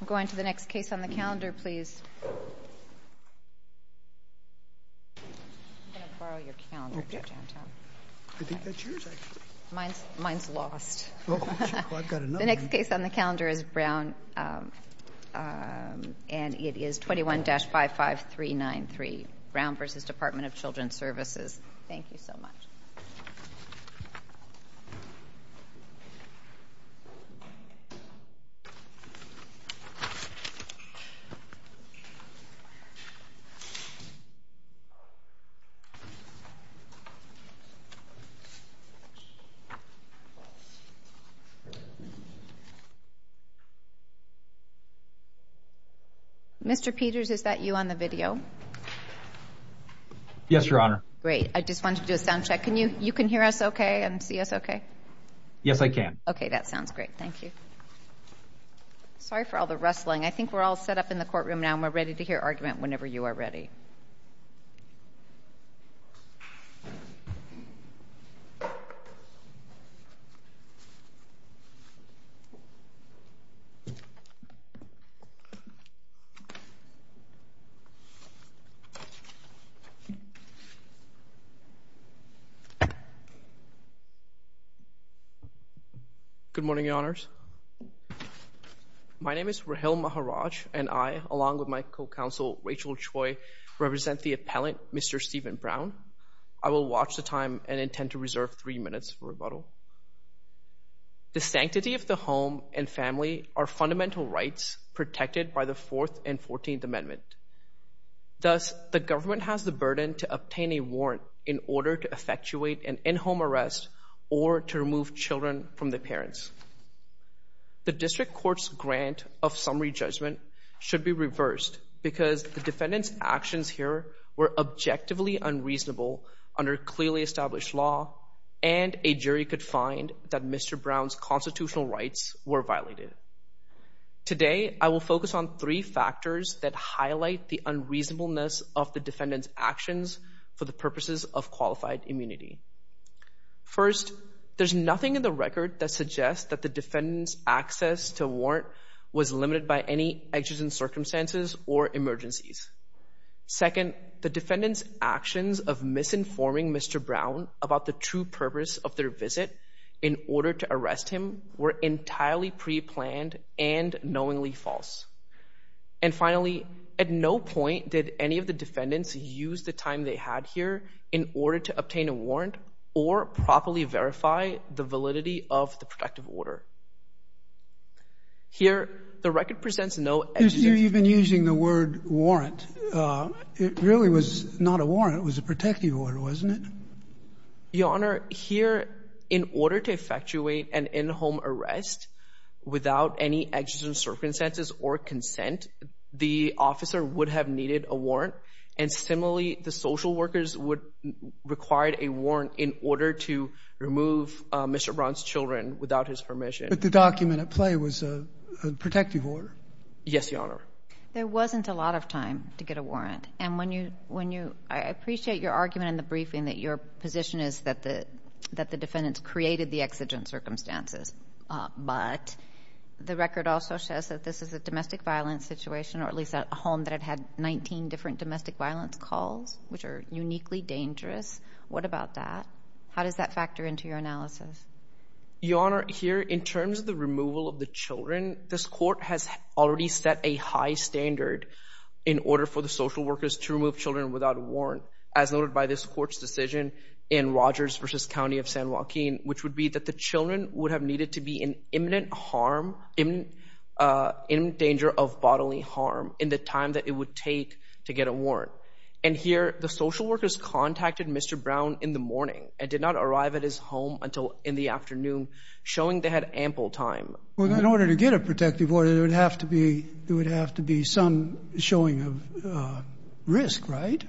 I'm going to the next case on the calendar, please. I'm going to borrow your calendar, Judge Anton. I think that's yours, actually. Mine's lost. Well, I've got another one. The next case on the calendar is Brown, and it is 21-55393, Brown v. Department of Children Services. Thank you so much. Mr. Peters, is that you on the video? Yes, Your Honor. Great. I just wanted to do a sound check. You can hear us okay and see us okay? Yes, I can. Okay, that sounds great. Thank you. Sorry for all the rustling. I think we're all set up in the courtroom now, and we're ready to hear argument whenever you are ready. Good morning, Your Honors. My name is Rahil Maharaj, and I, along with my co-counsel, Rachel Choi, represent the appellant, Mr. Stephen Brown. I will watch the time and intend to reserve three minutes for rebuttal. The sanctity of the home and family are fundamental rights protected by the Fourth and Fourteenth Amendment. Thus, the government has the burden to obtain a warrant in order to effectuate an in-home arrest or to remove children from their parents. The district court's grant of summary judgment should be reversed because the defendant's actions here were objectively unreasonable under clearly established law, and a jury could find that Mr. Brown's constitutional rights were violated. Today, I will focus on three factors that highlight the unreasonableness of the defendant's actions for the purposes of qualified immunity. First, there's nothing in the record that suggests that the defendant's access to a warrant was limited by any exigent circumstances or emergencies. Second, the defendant's actions of misinforming Mr. Brown about the true purpose of their visit in order to arrest him were entirely preplanned and knowingly false. And finally, at no point did any of the defendants use the time they had here in order to obtain a warrant or properly verify the validity of the protective order. Here, the record presents no exigent... You've been using the word warrant. It really was not a warrant. It was a protective order, wasn't it? Your Honor, here, in order to effectuate an in-home arrest without any exigent circumstances or consent, the officer would have needed a warrant, and similarly, the social workers would require a warrant in order to remove Mr. Brown's children without his permission. But the document at play was a protective order. Yes, Your Honor. There wasn't a lot of time to get a warrant, and when you... I appreciate your argument in the briefing that your position is that the defendants created the exigent circumstances, but the record also says that this is a domestic violence situation, or at least a home that had had 19 different domestic violence calls, which are uniquely dangerous. What about that? How does that factor into your analysis? Your Honor, here, in terms of the removal of the children, this court has already set a high standard in order for the social workers to remove children without a warrant, as noted by this court's decision in Rogers v. County of San Joaquin, which would be that the children would have needed to be in imminent harm, in danger of bodily harm, in the time that it would take to get a warrant. And here, the social workers contacted Mr. Brown in the morning and did not arrive at his home until in the afternoon, showing they had ample time. Well, in order to get a protective order, there would have to be some showing of risk, right?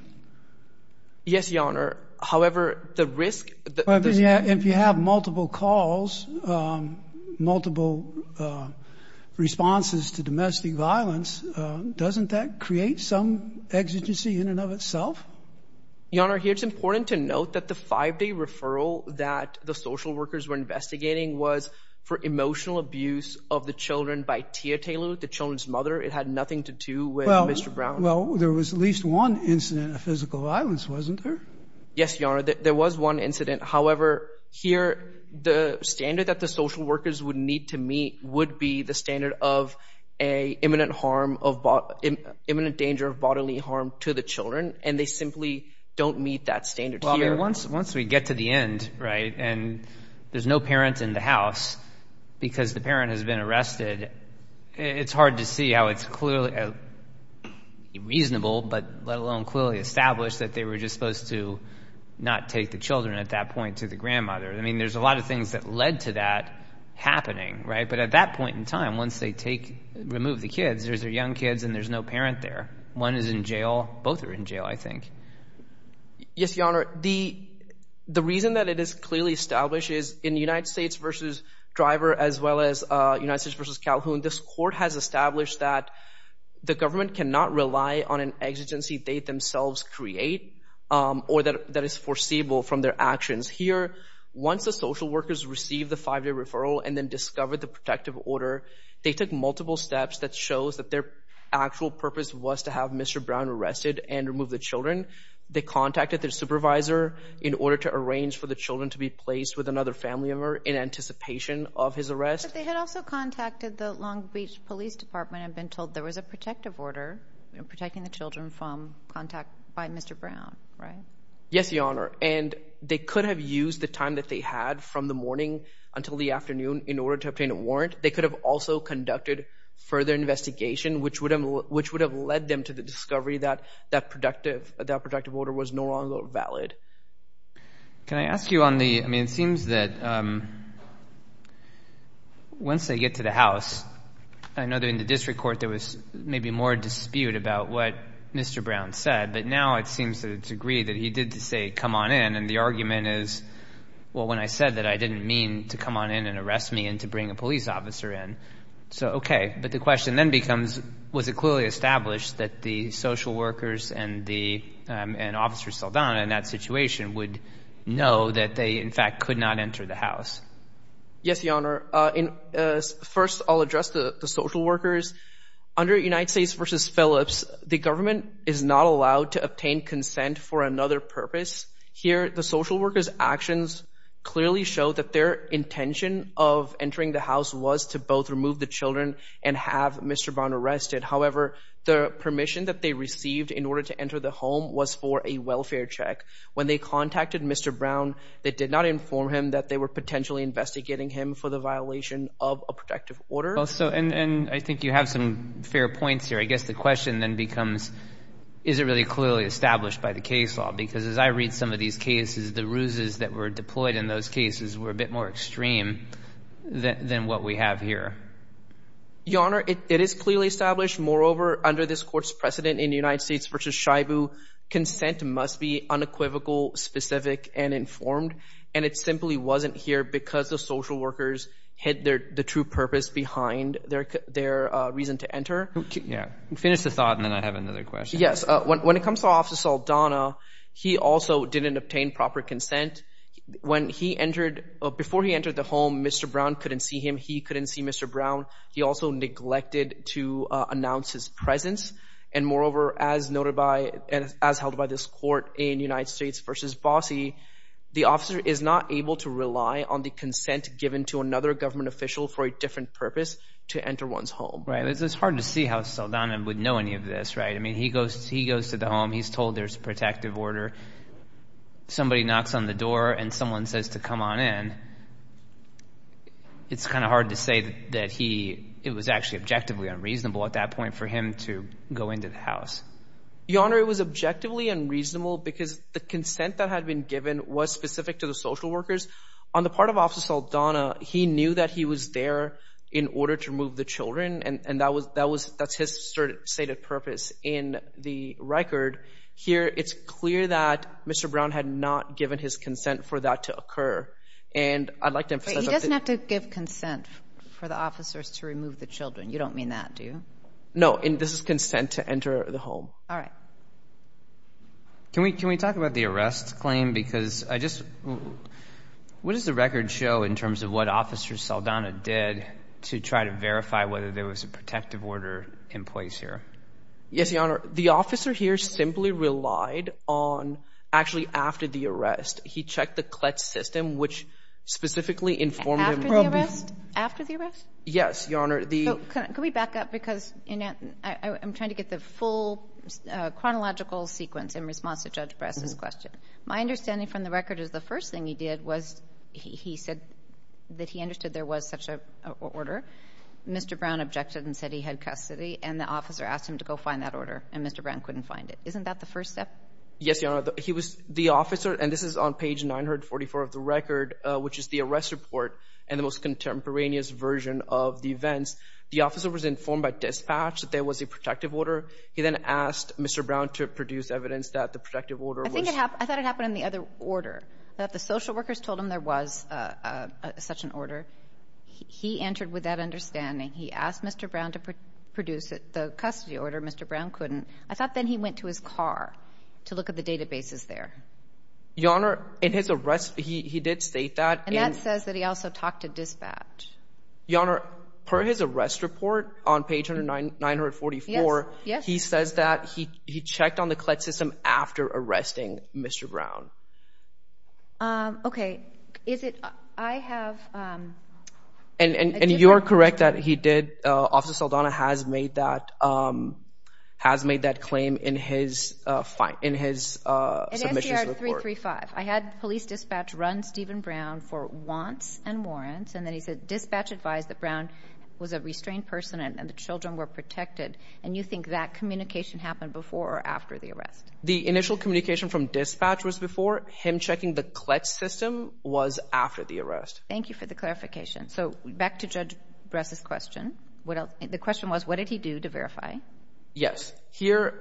Yes, Your Honor. However, the risk... If you have multiple calls, multiple responses to domestic violence, doesn't that create some exigency in and of itself? Your Honor, here, it's important to note that the five-day referral that the social workers were investigating was for emotional abuse of the children by Tia Taylor, the children's mother. It had nothing to do with Mr. Brown. Well, there was at least one incident of physical violence, wasn't there? Yes, Your Honor. There was one incident. However, here, the standard that the social workers would need to meet would be the standard of an imminent danger of bodily harm to the children, and they simply don't meet that standard here. Well, I mean, once we get to the end, right, and there's no parent in the house because the parent has been arrested, it's hard to see how it's clearly reasonable, but let alone clearly established, that they were just supposed to not take the children at that point to the grandmother. I mean, there's a lot of things that led to that happening, right? But at that point in time, once they remove the kids, there's their young kids and there's no parent there. One is in jail. Both are in jail, I think. Yes, Your Honor. The reason that it is clearly established is in United States v. Driver as well as United States v. Calhoun, this court has established that the government cannot rely on an exigency they themselves create or that is foreseeable from their actions. Here, once the social workers receive the five-day referral and then discover the protective order, they took multiple steps that shows that their actual purpose was to have Mr. Brown arrested and remove the children. They contacted their supervisor in order to arrange for the children to be placed with another family member in anticipation of his arrest. But they had also contacted the Long Beach Police Department and been told there was a protective order protecting the children from contact by Mr. Brown, right? Yes, Your Honor, and they could have used the time that they had from the morning until the afternoon in order to obtain a warrant. They could have also conducted further investigation, which would have led them to the discovery that that protective order was no longer valid. Can I ask you on the – I mean, it seems that once they get to the house, I know that in the district court there was maybe more dispute about what Mr. Brown said, but now it seems to a degree that he did say, come on in, and the argument is, well, when I said that, I didn't mean to come on in and arrest me and to bring a police officer in. So, okay, but the question then becomes, was it clearly established that the social workers and Officer Saldana in that situation would know that they, in fact, could not enter the house? Yes, Your Honor. First, I'll address the social workers. Under United States v. Phillips, the government is not allowed to obtain consent for another purpose. Here, the social workers' actions clearly show that their intention of entering the house was to both remove the children and have Mr. Brown arrested. However, the permission that they received in order to enter the home was for a welfare check. When they contacted Mr. Brown, they did not inform him that they were potentially investigating him for the violation of a protective order. And I think you have some fair points here. I guess the question then becomes, is it really clearly established by the case law? Because as I read some of these cases, the ruses that were deployed in those cases were a bit more extreme than what we have here. Your Honor, it is clearly established. Moreover, under this Court's precedent in United States v. Shibu, consent must be unequivocal, specific, and informed. And it simply wasn't here because the social workers hid the true purpose behind their reason to enter. Finish the thought, and then I have another question. Yes. When it comes to Officer Saldana, he also didn't obtain proper consent. Before he entered the home, Mr. Brown couldn't see him. He couldn't see Mr. Brown. He also neglected to announce his presence. And moreover, as held by this Court in United States v. Bossi, the officer is not able to rely on the consent given to another government official for a different purpose to enter one's home. It's hard to see how Saldana would know any of this. I mean, he goes to the home. He's told there's a protective order. Somebody knocks on the door, and someone says to come on in. It's kind of hard to say that it was actually objectively unreasonable at that point for him to go into the house. Your Honor, it was objectively unreasonable because the consent that had been given was specific to the social workers. On the part of Officer Saldana, he knew that he was there in order to remove the children, and that's his stated purpose in the record. Here it's clear that Mr. Brown had not given his consent for that to occur. And I'd like to emphasize that. He doesn't have to give consent for the officers to remove the children. You don't mean that, do you? No, and this is consent to enter the home. All right. Can we talk about the arrest claim? Because I just, what does the record show in terms of what Officer Saldana did to try to verify whether there was a protective order in place here? Yes, Your Honor. The officer here simply relied on actually after the arrest. He checked the CLETS system, which specifically informed him. After the arrest? Yes, Your Honor. Can we back up? Because I'm trying to get the full chronological sequence in response to Judge Bress's question. My understanding from the record is the first thing he did was he said that he understood there was such an order. Mr. Brown objected and said he had custody, and the officer asked him to go find that order, and Mr. Brown couldn't find it. Isn't that the first step? Yes, Your Honor. The officer, and this is on page 944 of the record, which is the arrest report and the most contemporaneous version of the events, the officer was informed by dispatch that there was a protective order. He then asked Mr. Brown to produce evidence that the protective order was... I thought it happened in the other order, that the social workers told him there was such an order. He entered with that understanding. He asked Mr. Brown to produce the custody order. Mr. Brown couldn't. I thought then he went to his car to look at the databases there. Your Honor, in his arrest, he did state that. And that says that he also talked to dispatch. Your Honor, per his arrest report on page 944, he says that he checked on the CLET system after arresting Mr. Brown. Okay. Is it... I have... And you are correct that he did. Officer Saldana has made that... has made that claim in his... In SDR 335. I had police dispatch run Stephen Brown for wants and warrants, and then he said dispatch advised that Brown was a restrained person and the children were protected. And you think that communication happened before or after the arrest? The initial communication from dispatch was before. Him checking the CLET system was after the arrest. Thank you for the clarification. So back to Judge Bress' question. The question was, what did he do to verify? Yes. Here,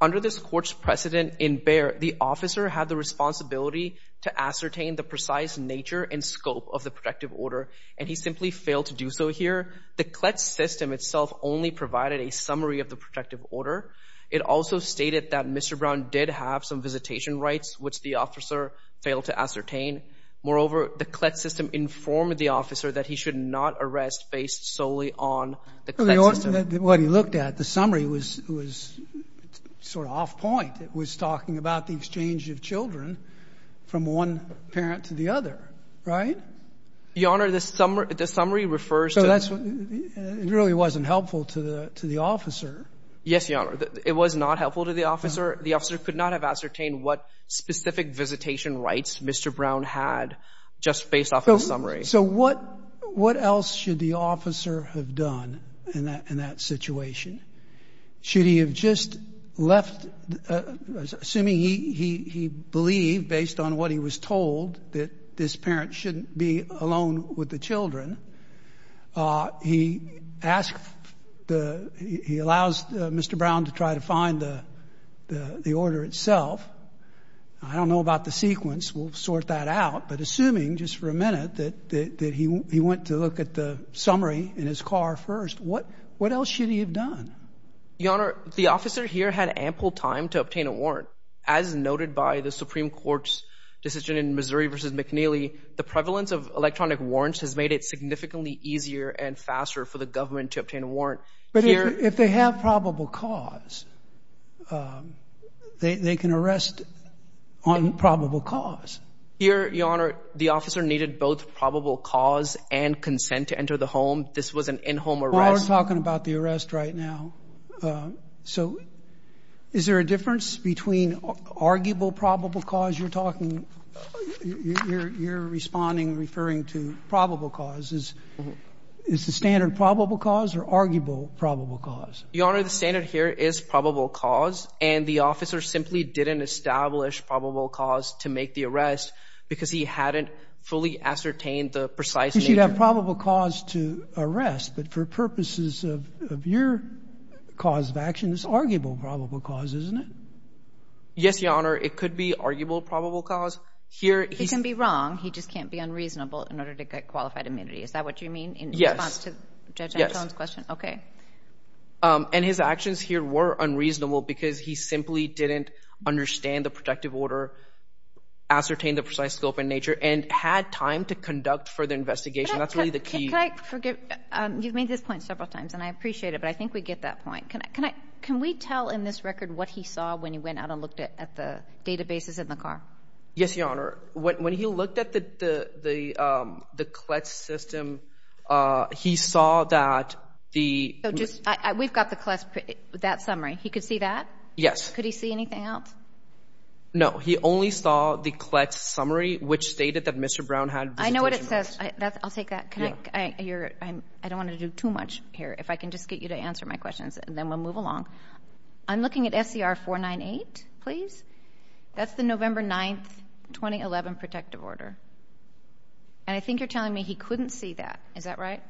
under this court's precedent in Bayer, the officer had the responsibility to ascertain the precise nature and scope of the protective order, and he simply failed to do so here. The CLET system itself only provided a summary of the protective order. It also stated that Mr. Brown did have some visitation rights, which the officer failed to ascertain. Moreover, the CLET system informed the officer that he should not arrest based solely on the CLET system. What he looked at, the summary, was sort of off point. It was talking about the exchange of children from one parent to the other, right? Your Honor, the summary refers to... It really wasn't helpful to the officer. Yes, Your Honor. It was not helpful to the officer. The officer could not have ascertained what specific visitation rights Mr. Brown had just based off of the summary. So what else should the officer have done in that situation? Should he have just left, assuming he believed, based on what he was told, that this parent shouldn't be alone with the children? He allows Mr. Brown to try to find the order itself. I don't know about the sequence. We'll sort that out. But assuming, just for a minute, that he went to look at the summary in his car first, what else should he have done? Your Honor, the officer here had ample time to obtain a warrant. As noted by the Supreme Court's decision in Missouri v. McNeely, the prevalence of electronic warrants has made it significantly easier and faster for the government to obtain a warrant. But if they have probable cause, they can arrest on probable cause. Your Honor, the officer needed both probable cause and consent to enter the home. This was an in-home arrest. Well, we're talking about the arrest right now. So is there a difference between arguable probable cause? You're talking, you're responding, referring to probable cause. Is the standard probable cause or arguable probable cause? Your Honor, the standard here is probable cause, and the officer simply didn't establish probable cause to make the arrest because he hadn't fully ascertained the precise nature. There's a probable cause to arrest, but for purposes of your cause of action, it's arguable probable cause, isn't it? Yes, Your Honor, it could be arguable probable cause. He can be wrong. He just can't be unreasonable in order to get qualified immunity. Is that what you mean in response to Judge Antone's question? Yes. Okay. And his actions here were unreasonable because he simply didn't understand the protective order, ascertain the precise scope and nature, and had time to conduct further investigation. That's really the key. Can I forget? You've made this point several times, and I appreciate it, but I think we get that point. Can we tell in this record what he saw when he went out and looked at the databases in the car? Yes, Your Honor. When he looked at the CLETS system, he saw that the— We've got the CLETS, that summary. He could see that? Yes. Could he see anything else? No, he only saw the CLETS summary, which stated that Mr. Brown had— I know what it says. I'll take that. I don't want to do too much here. If I can just get you to answer my questions, and then we'll move along. I'm looking at SCR 498, please. That's the November 9, 2011 protective order. And I think you're telling me he couldn't see that. Is that right?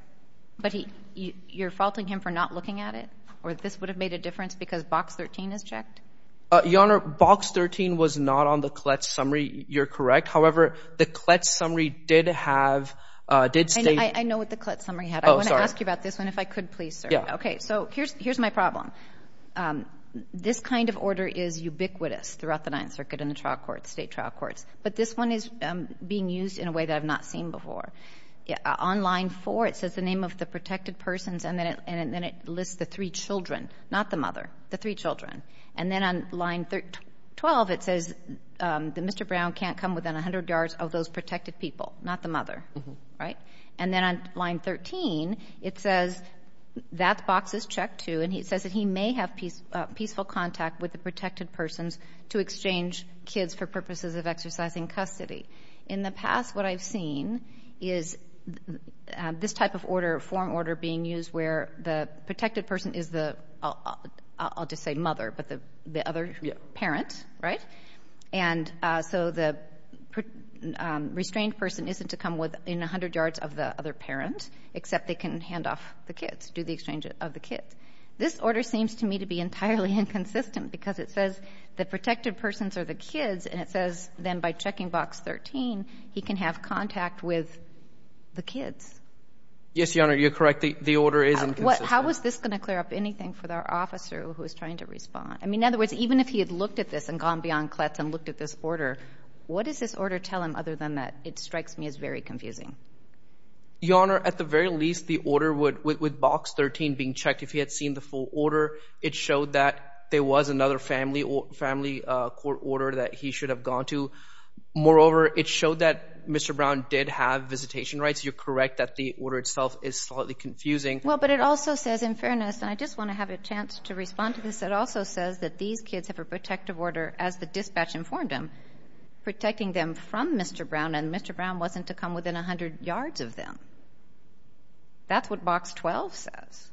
But you're faulting him for not looking at it, or this would have made a difference because box 13 is checked? Your Honor, box 13 was not on the CLETS summary. You're correct. However, the CLETS summary did have— I know what the CLETS summary had. I want to ask you about this one, if I could, please, sir. Okay. So here's my problem. This kind of order is ubiquitous throughout the Ninth Circuit and the state trial courts, but this one is being used in a way that I've not seen before. On line 4, it says the name of the protected persons, and then it lists the three children, not the mother, the three children. And then on line 12, it says that Mr. Brown can't come within 100 yards of those protected people, not the mother, right? And then on line 13, it says that box is checked too, and it says that he may have peaceful contact with the protected persons to exchange kids for purposes of exercising custody. In the past, what I've seen is this type of form order being used where the protected person is the, I'll just say mother, but the other parent, right? And so the restrained person isn't to come within 100 yards of the other parent, except they can hand off the kids, do the exchange of the kids. This order seems to me to be entirely inconsistent because it says the protected persons are the kids, and it says then by checking box 13 he can have contact with the kids. Yes, Your Honor, you're correct. The order is inconsistent. How is this going to clear up anything for the officer who is trying to respond? I mean, in other words, even if he had looked at this and gone beyond clets and looked at this order, what does this order tell him other than that it strikes me as very confusing? Your Honor, at the very least, the order would, with box 13 being checked, if he had seen the full order, it showed that there was another family court order that he should have gone to. Moreover, it showed that Mr. Brown did have visitation rights. You're correct that the order itself is slightly confusing. Well, but it also says, in fairness, and I just want to have a chance to respond to this, it also says that these kids have a protective order as the dispatch informed them, protecting them from Mr. Brown, and Mr. Brown wasn't to come within 100 yards of them. That's what box 12 says.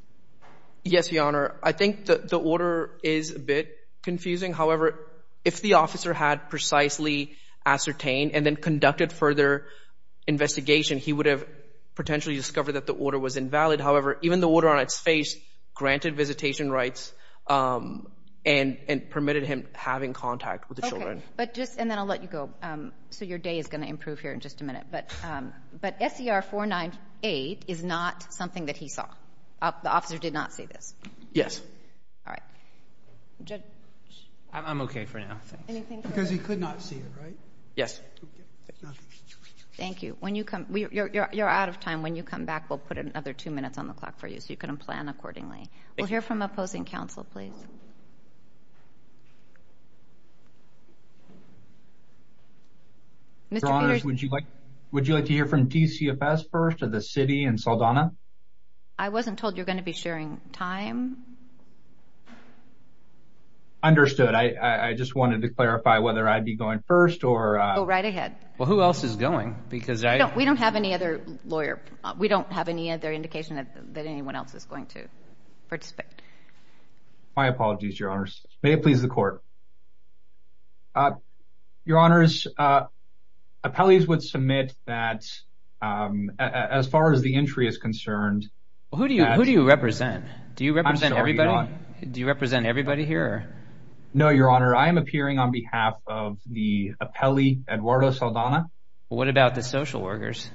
Yes, Your Honor. I think the order is a bit confusing. However, if the officer had precisely ascertained and then conducted further investigation, he would have potentially discovered that the order was invalid. However, even the order on its face granted visitation rights and permitted him having contact with the children. Okay. And then I'll let you go, so your day is going to improve here in just a minute. But SER 498 is not something that he saw. The officer did not see this. Yes. All right. I'm okay for now. Because he could not see it, right? Yes. Thank you. You're out of time. When you come back, we'll put another two minutes on the clock for you so you can plan accordingly. We'll hear from opposing counsel, please. Mr. Peters, would you like to hear from DCFS first or the city and Saldana? I wasn't told you're going to be sharing time. Understood. I just wanted to clarify whether I'd be going first or… Go right ahead. Well, who else is going? Because I… We don't have any other lawyer. We don't have any other indication that anyone else is going to participate. My apologies, Your Honors. May it please the Court. Your Honors, appellees would submit that as far as the entry is concerned… Who do you represent? Do you represent everybody? I'm sorry, Your Honor. Do you represent everybody here? No, Your Honor. I am appearing on behalf of the appellee, Eduardo Saldana. What about the social workers?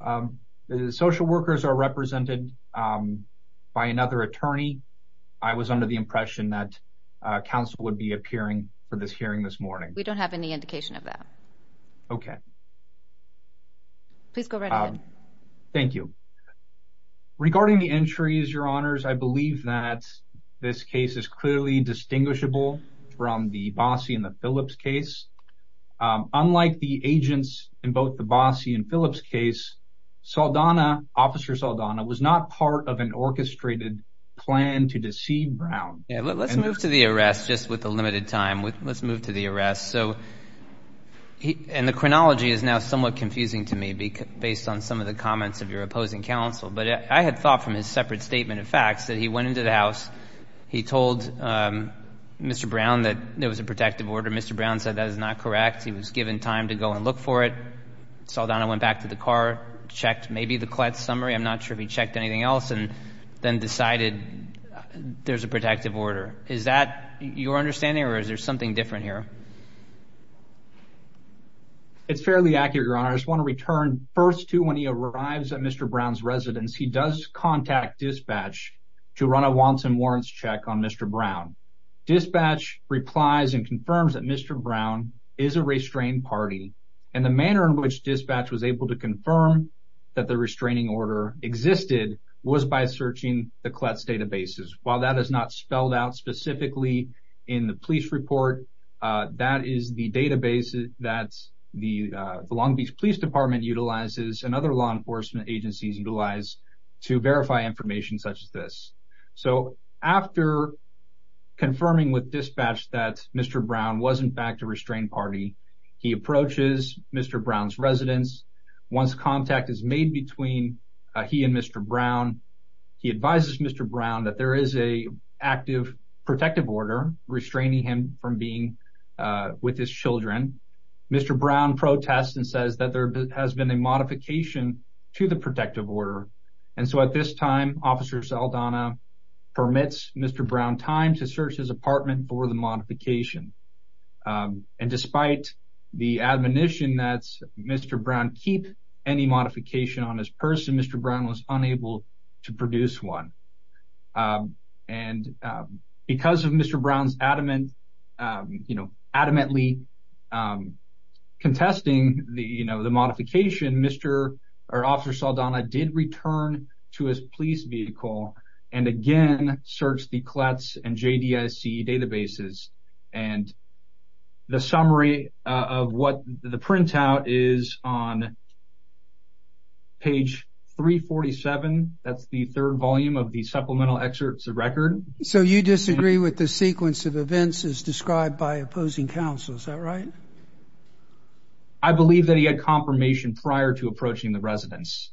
The social workers are represented by another attorney. I was under the impression that counsel would be appearing for this hearing this morning. We don't have any indication of that. Okay. Please go right ahead. Thank you. Regarding the entries, Your Honors, I believe that this case is clearly distinguishable from the Bossie and the Phillips case. Unlike the agents in both the Bossie and Phillips case, Saldana, Officer Saldana, was not part of an orchestrated plan to deceive Brown. Let's move to the arrest just with a limited time. Let's move to the arrest. And the chronology is now somewhat confusing to me based on some of the comments of your opposing counsel. But I had thought from his separate statement of facts that he went into the house, he told Mr. Brown that there was a protective order. Mr. Brown said that is not correct. He was given time to go and look for it. Saldana went back to the car, checked maybe the Kletz summary. I'm not sure if he checked anything else and then decided there's a protective order. Is that your understanding or is there something different here? It's fairly accurate, Your Honor. I just want to return first to when he arrives at Mr. Brown's residence, he does contact dispatch to run a wants and warrants check on Mr. Brown. Dispatch replies and confirms that Mr. Brown is a restrained party. And the manner in which dispatch was able to confirm that the restraining order existed was by searching the Kletz databases. While that is not spelled out specifically in the police report, that is the database that the Long Beach Police Department utilizes and other law enforcement agencies utilize to verify information such as this. So after confirming with dispatch that Mr. Brown was in fact a restrained party, he approaches Mr. Brown's residence. Once contact is made between he and Mr. Brown, he advises Mr. Brown that there is an active protective order restraining him from being with his children. Mr. Brown protests and says that there has been a modification to the protective order. And so at this time, Officer Saldana permits Mr. Brown time to search his apartment for the modification. And despite the admonition that Mr. Brown keep any modification on his person, Mr. Brown was unable to produce one. And because of Mr. Brown's adamantly contesting the modification, Officer Saldana did return to his police vehicle and again searched the Kletz and JDIC databases. And the summary of what the printout is on page 347, that's the third volume of the supplemental excerpts of record. So you disagree with the sequence of events as described by opposing counsel, is that right? I believe that he had confirmation prior to approaching the residence.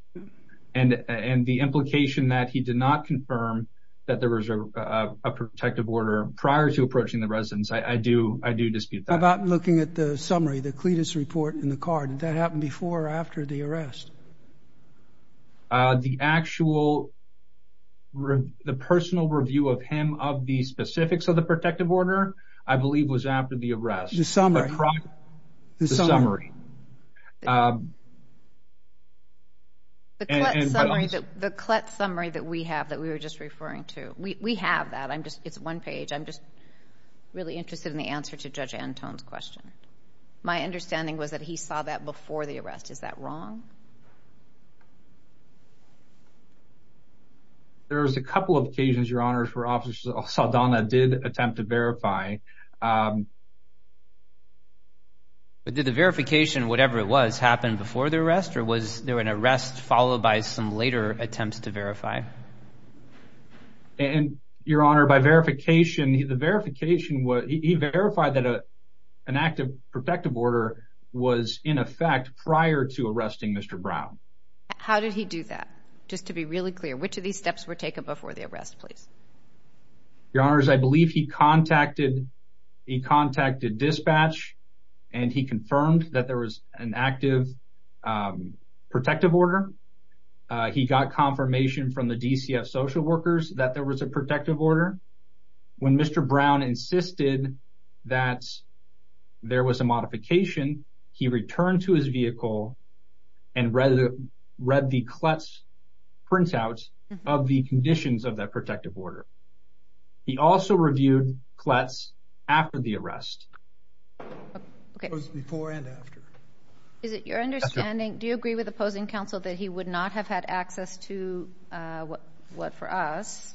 And the implication that he did not confirm that there was a protective order prior to approaching the residence, I do dispute that. How about looking at the summary, the Kletz report in the card, did that happen before or after the arrest? The actual, the personal review of him of the specifics of the protective order, I believe was after the arrest. The summary? The summary. The Kletz summary that we have that we were just referring to, we have that, it's one page, I'm just really interested in the answer to Judge Anton's question. My understanding was that he saw that before the arrest, is that wrong? There was a couple of occasions, Your Honors, where Officer Saldana did attempt to verify. Did the verification, whatever it was, happen before the arrest, or was there an arrest followed by some later attempts to verify? Your Honor, by verification, he verified that an active protective order was in effect prior to arresting Mr. Brown. How did he do that? Just to be really clear, which of these steps were taken before the arrest, please? Your Honors, I believe he contacted dispatch and he confirmed that there was an active protective order. He got confirmation from the DCF social workers that there was a protective order. When Mr. Brown insisted that there was a modification, he returned to his vehicle and read the Kletz printout of the conditions of that protective order. He also reviewed Kletz after the arrest. It was before and after. Is it your understanding, do you agree with opposing counsel that he would not have had access to what, for us,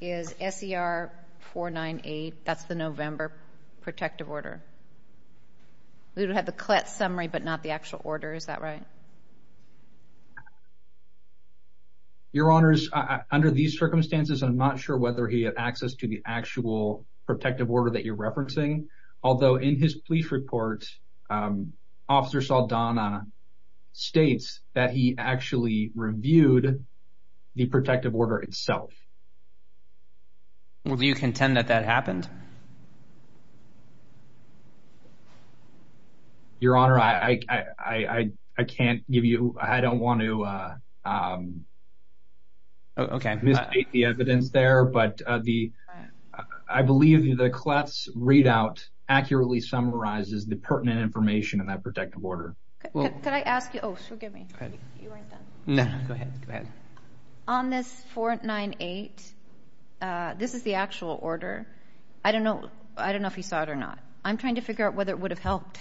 is SER 498? That's the November protective order. We would have the Kletz summary, but not the actual order. Is that right? Your Honors, under these circumstances, I'm not sure whether he had access to the actual protective order that you're referencing. Although, in his police report, Officer Saldana states that he actually reviewed the protective order itself. Do you contend that that happened? Your Honor, I can't give you, I don't want to misstate the evidence there. I believe the Kletz readout accurately summarizes the pertinent information in that protective order. Could I ask you, oh, forgive me. No, go ahead. On this 498, this is the actual order. I don't know if he saw it or not. I'm trying to figure out whether it would have helped.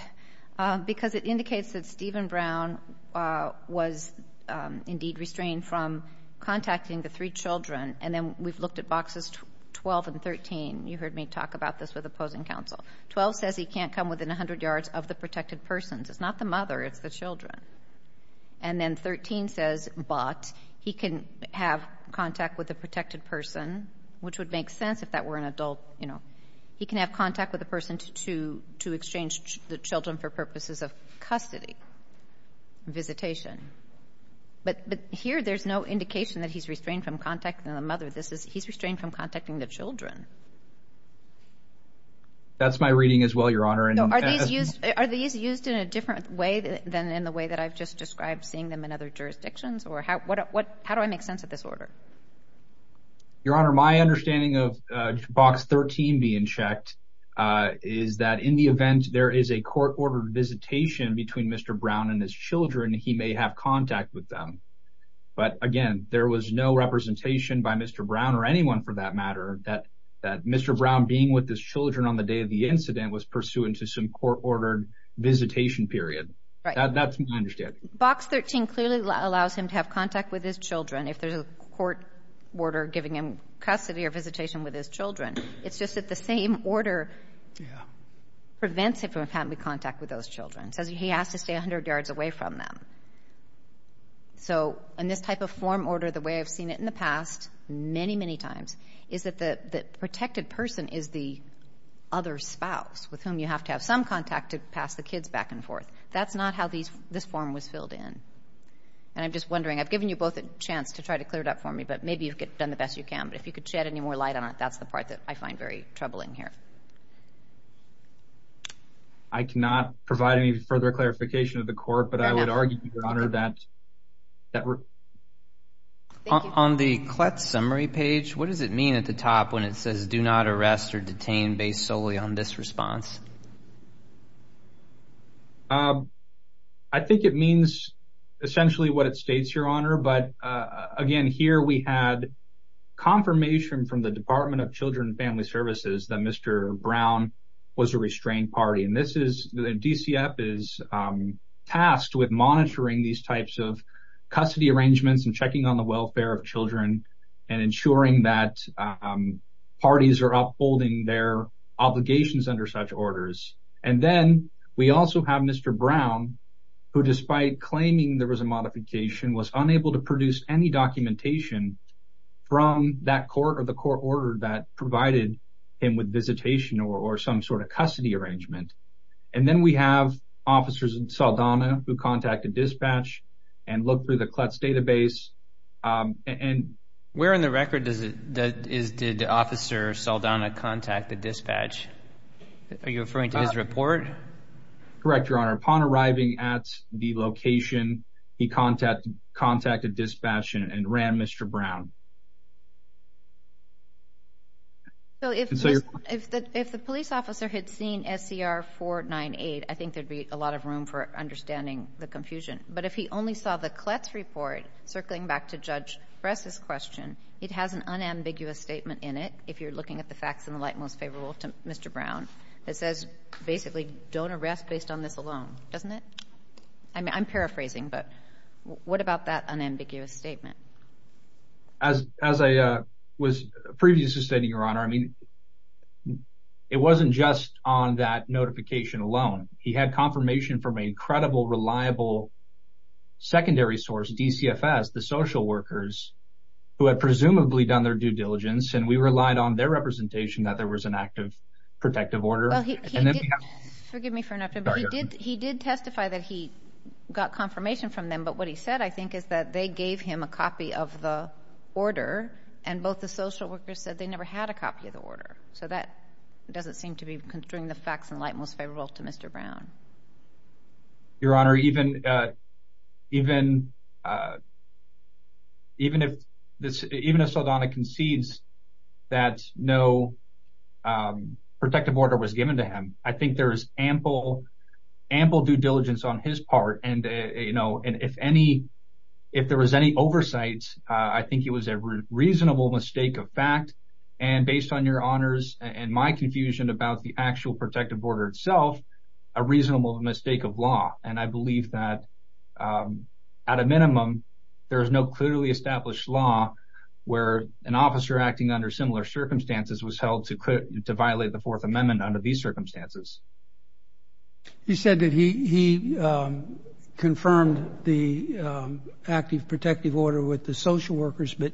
Because it indicates that Stephen Brown was, indeed, restrained from contacting the three children. And then we've looked at boxes 12 and 13. You heard me talk about this with opposing counsel. 12 says he can't come within 100 yards of the protected persons. It's not the mother, it's the children. And then 13 says, but, he can have contact with the protected person, which would make sense if that were an adult. He can have contact with the person to exchange the children for purposes of custody, visitation. But here there's no indication that he's restrained from contacting the mother. He's restrained from contacting the children. That's my reading as well, Your Honor. Are these used in a different way than in the way that I've just described, seeing them in other jurisdictions? Or how do I make sense of this order? Your Honor, my understanding of box 13 being checked is that in the event there is a court-ordered visitation between Mr. Brown and his children, he may have contact with them. But, again, there was no representation by Mr. Brown or anyone for that matter that Mr. Brown being with his children on the day of the incident was pursuant to some court-ordered visitation period. That's my understanding. Box 13 clearly allows him to have contact with his children if there's a court order giving him custody or visitation with his children. It's just that the same order prevents him from having contact with those children. It says he has to stay 100 yards away from them. So, in this type of form order, the way I've seen it in the past, many, many times, is that the protected person is the other spouse with whom you have to have some contact to pass the kids back and forth. That's not how this form was filled in. And I'm just wondering, I've given you both a chance to try to clear it up for me, but maybe you've done the best you can. But if you could shed any more light on it, that's the part that I find very troubling here. I cannot provide any further clarification of the court, but I would argue, Your Honor, that... On the CLETS summary page, what does it mean at the top when it says do not arrest or detain based solely on this response? I think it means essentially what it states, Your Honor. But, again, here we had confirmation from the Department of Children and Family Services that Mr. Brown was a restrained party. And DCF is tasked with monitoring these types of custody arrangements and checking on the welfare of children and ensuring that parties are upholding their obligations under such orders. And then we also have Mr. Brown, who despite claiming there was a modification, was unable to produce any documentation from that court or the court order that provided him with visitation or some sort of custody arrangement. And then we have Officers Saldana who contacted dispatch and looked through the CLETS database and... Correct, Your Honor. Upon arriving at the location, he contacted dispatch and ran Mr. Brown. So if the police officer had seen SCR 498, I think there'd be a lot of room for understanding the confusion. But if he only saw the CLETS report circling back to Judge Bress's question, it has an unambiguous statement in it, if you're looking at the facts in the light most favorable to Mr. Brown, that says basically, don't arrest based on this alone, doesn't it? I'm paraphrasing, but what about that unambiguous statement? As I was previously stating, Your Honor, I mean, it wasn't just on that notification alone. He had confirmation from an incredible, reliable secondary source, DCFS, the social workers, who had presumably done their due diligence. And we relied on their representation that there was an active protective order. Well, forgive me for interrupting, but he did testify that he got confirmation from them. But what he said, I think, is that they gave him a copy of the order, and both the social workers said they never had a copy of the order. So that doesn't seem to be considering the facts in light most favorable to Mr. Brown. Your Honor, even if Saldana concedes that no protective order was given to him, I think there is ample due diligence on his part. And if there was any oversight, I think it was a reasonable mistake of fact. And based on Your Honors and my confusion about the actual protective order itself, a reasonable mistake of law. And I believe that at a minimum, there is no clearly established law where an officer acting under similar circumstances was held to violate the Fourth Amendment under these circumstances. He said that he confirmed the active protective order with the social workers, but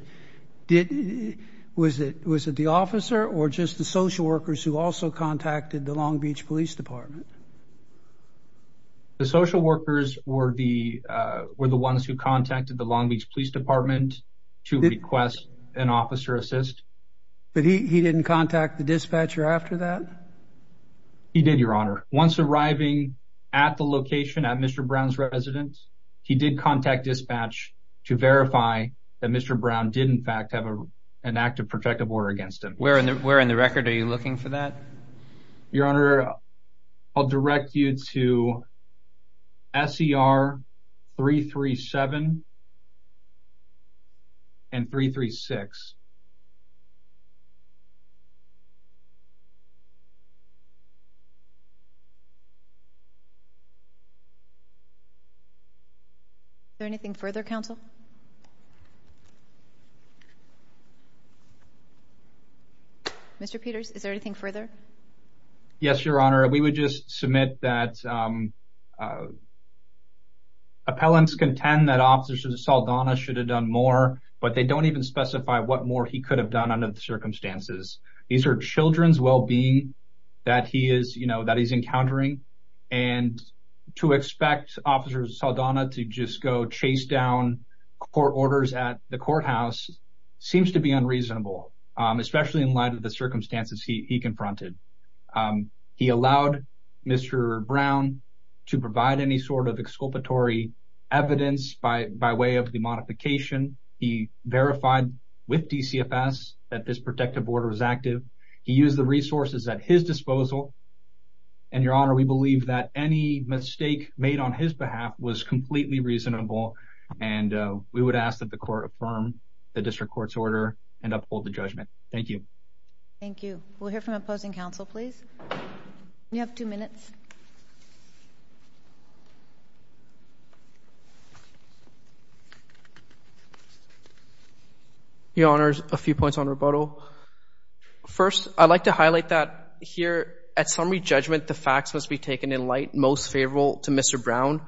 was it the officer or just the social workers who also contacted the Long Beach Police Department? The social workers were the ones who contacted the Long Beach Police Department to request an officer assist. But he didn't contact the dispatcher after that? He did, Your Honor. Once arriving at the location at Mr. Brown's residence, he did contact dispatch to verify that Mr. Brown did in fact have an active protective order against him. Where in the record are you looking for that? Your Honor, I'll direct you to S.E.R. 337 and 336. Is there anything further, Counsel? Mr. Peters, is there anything further? Yes, Your Honor. We would just submit that appellants contend that Officer Saldana should have done more, but they don't even specify what more he could have done under the circumstances. These are children's well-being that he is encountering. And to expect Officer Saldana to just go chase down court orders at the courthouse seems to be unreasonable, especially in light of the circumstances he confronted. He allowed Mr. Brown to provide any sort of exculpatory evidence by way of the modification. He verified with DCFS that this protective order was active. He used the resources at his disposal. And, Your Honor, we believe that any mistake made on his behalf was completely reasonable. And we would ask that the court affirm the district court's order and uphold the judgment. Thank you. Thank you. We'll hear from opposing counsel, please. You have two minutes. Your Honor, a few points on rebuttal. First, I'd like to highlight that here, at summary judgment, the facts must be taken in light, most favorable to Mr. Brown.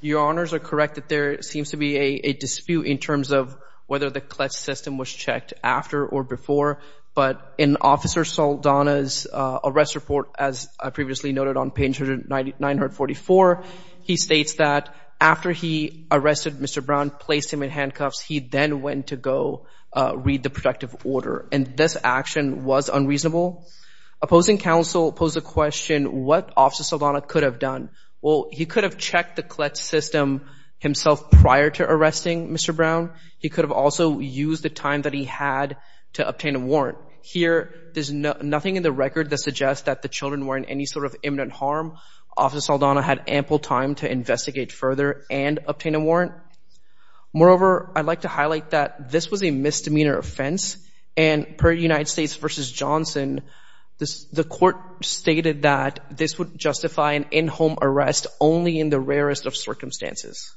Your Honors are correct that there seems to be a dispute in terms of whether the Kletz system was checked after or before, but in Officer Saldana's arrest report, as previously noted on page 944, he states that after he arrested Mr. Brown, placed him in handcuffs, he then went to go read the protective order. And this action was unreasonable. Opposing counsel posed the question, what Officer Saldana could have done? Well, he could have checked the Kletz system himself prior to arresting Mr. Brown. He could have also used the time that he had to obtain a warrant. Here, there's nothing in the record that suggests that the children were in any sort of imminent harm. Officer Saldana had ample time to investigate further and obtain a warrant. Moreover, I'd like to highlight that this was a misdemeanor offense, and per United States v. Johnson, the court stated that this would justify an in-home arrest only in the rarest of circumstances.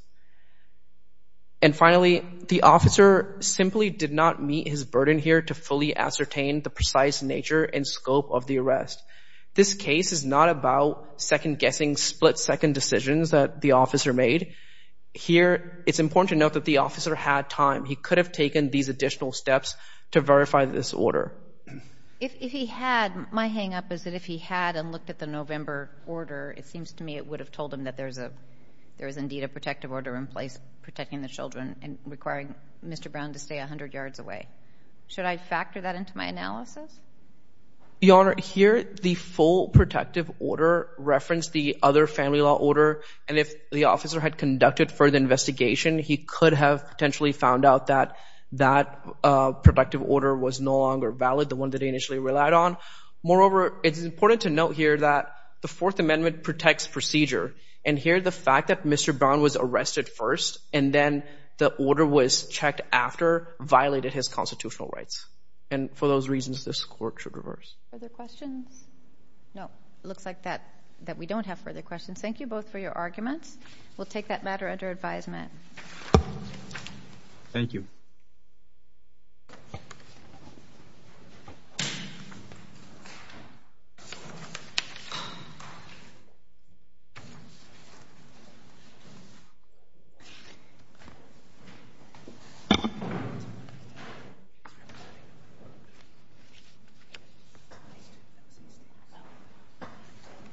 And finally, the officer simply did not meet his burden here to fully ascertain the precise nature and scope of the arrest. This case is not about second-guessing split-second decisions that the officer made. Here, it's important to note that the officer had time. He could have taken these additional steps to verify this order. If he had, my hang-up is that if he had and looked at the November order, it seems to me it would have told him that there is indeed a protective order in place protecting the children and requiring Mr. Brown to stay 100 yards away. Should I factor that into my analysis? Your Honor, here, the full protective order referenced the other family law order, and if the officer had conducted further investigation, he could have potentially found out that that protective order was no longer valid, the one that he initially relied on. Moreover, it's important to note here that the Fourth Amendment protects procedure. And here, the fact that Mr. Brown was arrested first and then the order was checked after violated his constitutional rights. And for those reasons, this court should reverse. Further questions? No. It looks like that we don't have further questions. Thank you both for your arguments. We'll take that matter under advisement. Thank you.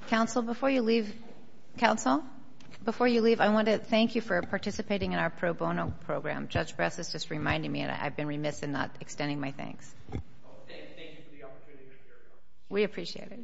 Counsel, before you leave, I want to thank you for participating in our pro bono program. Judge Bress is just reminding me, and I've been remiss in not extending my thanks. We appreciate it.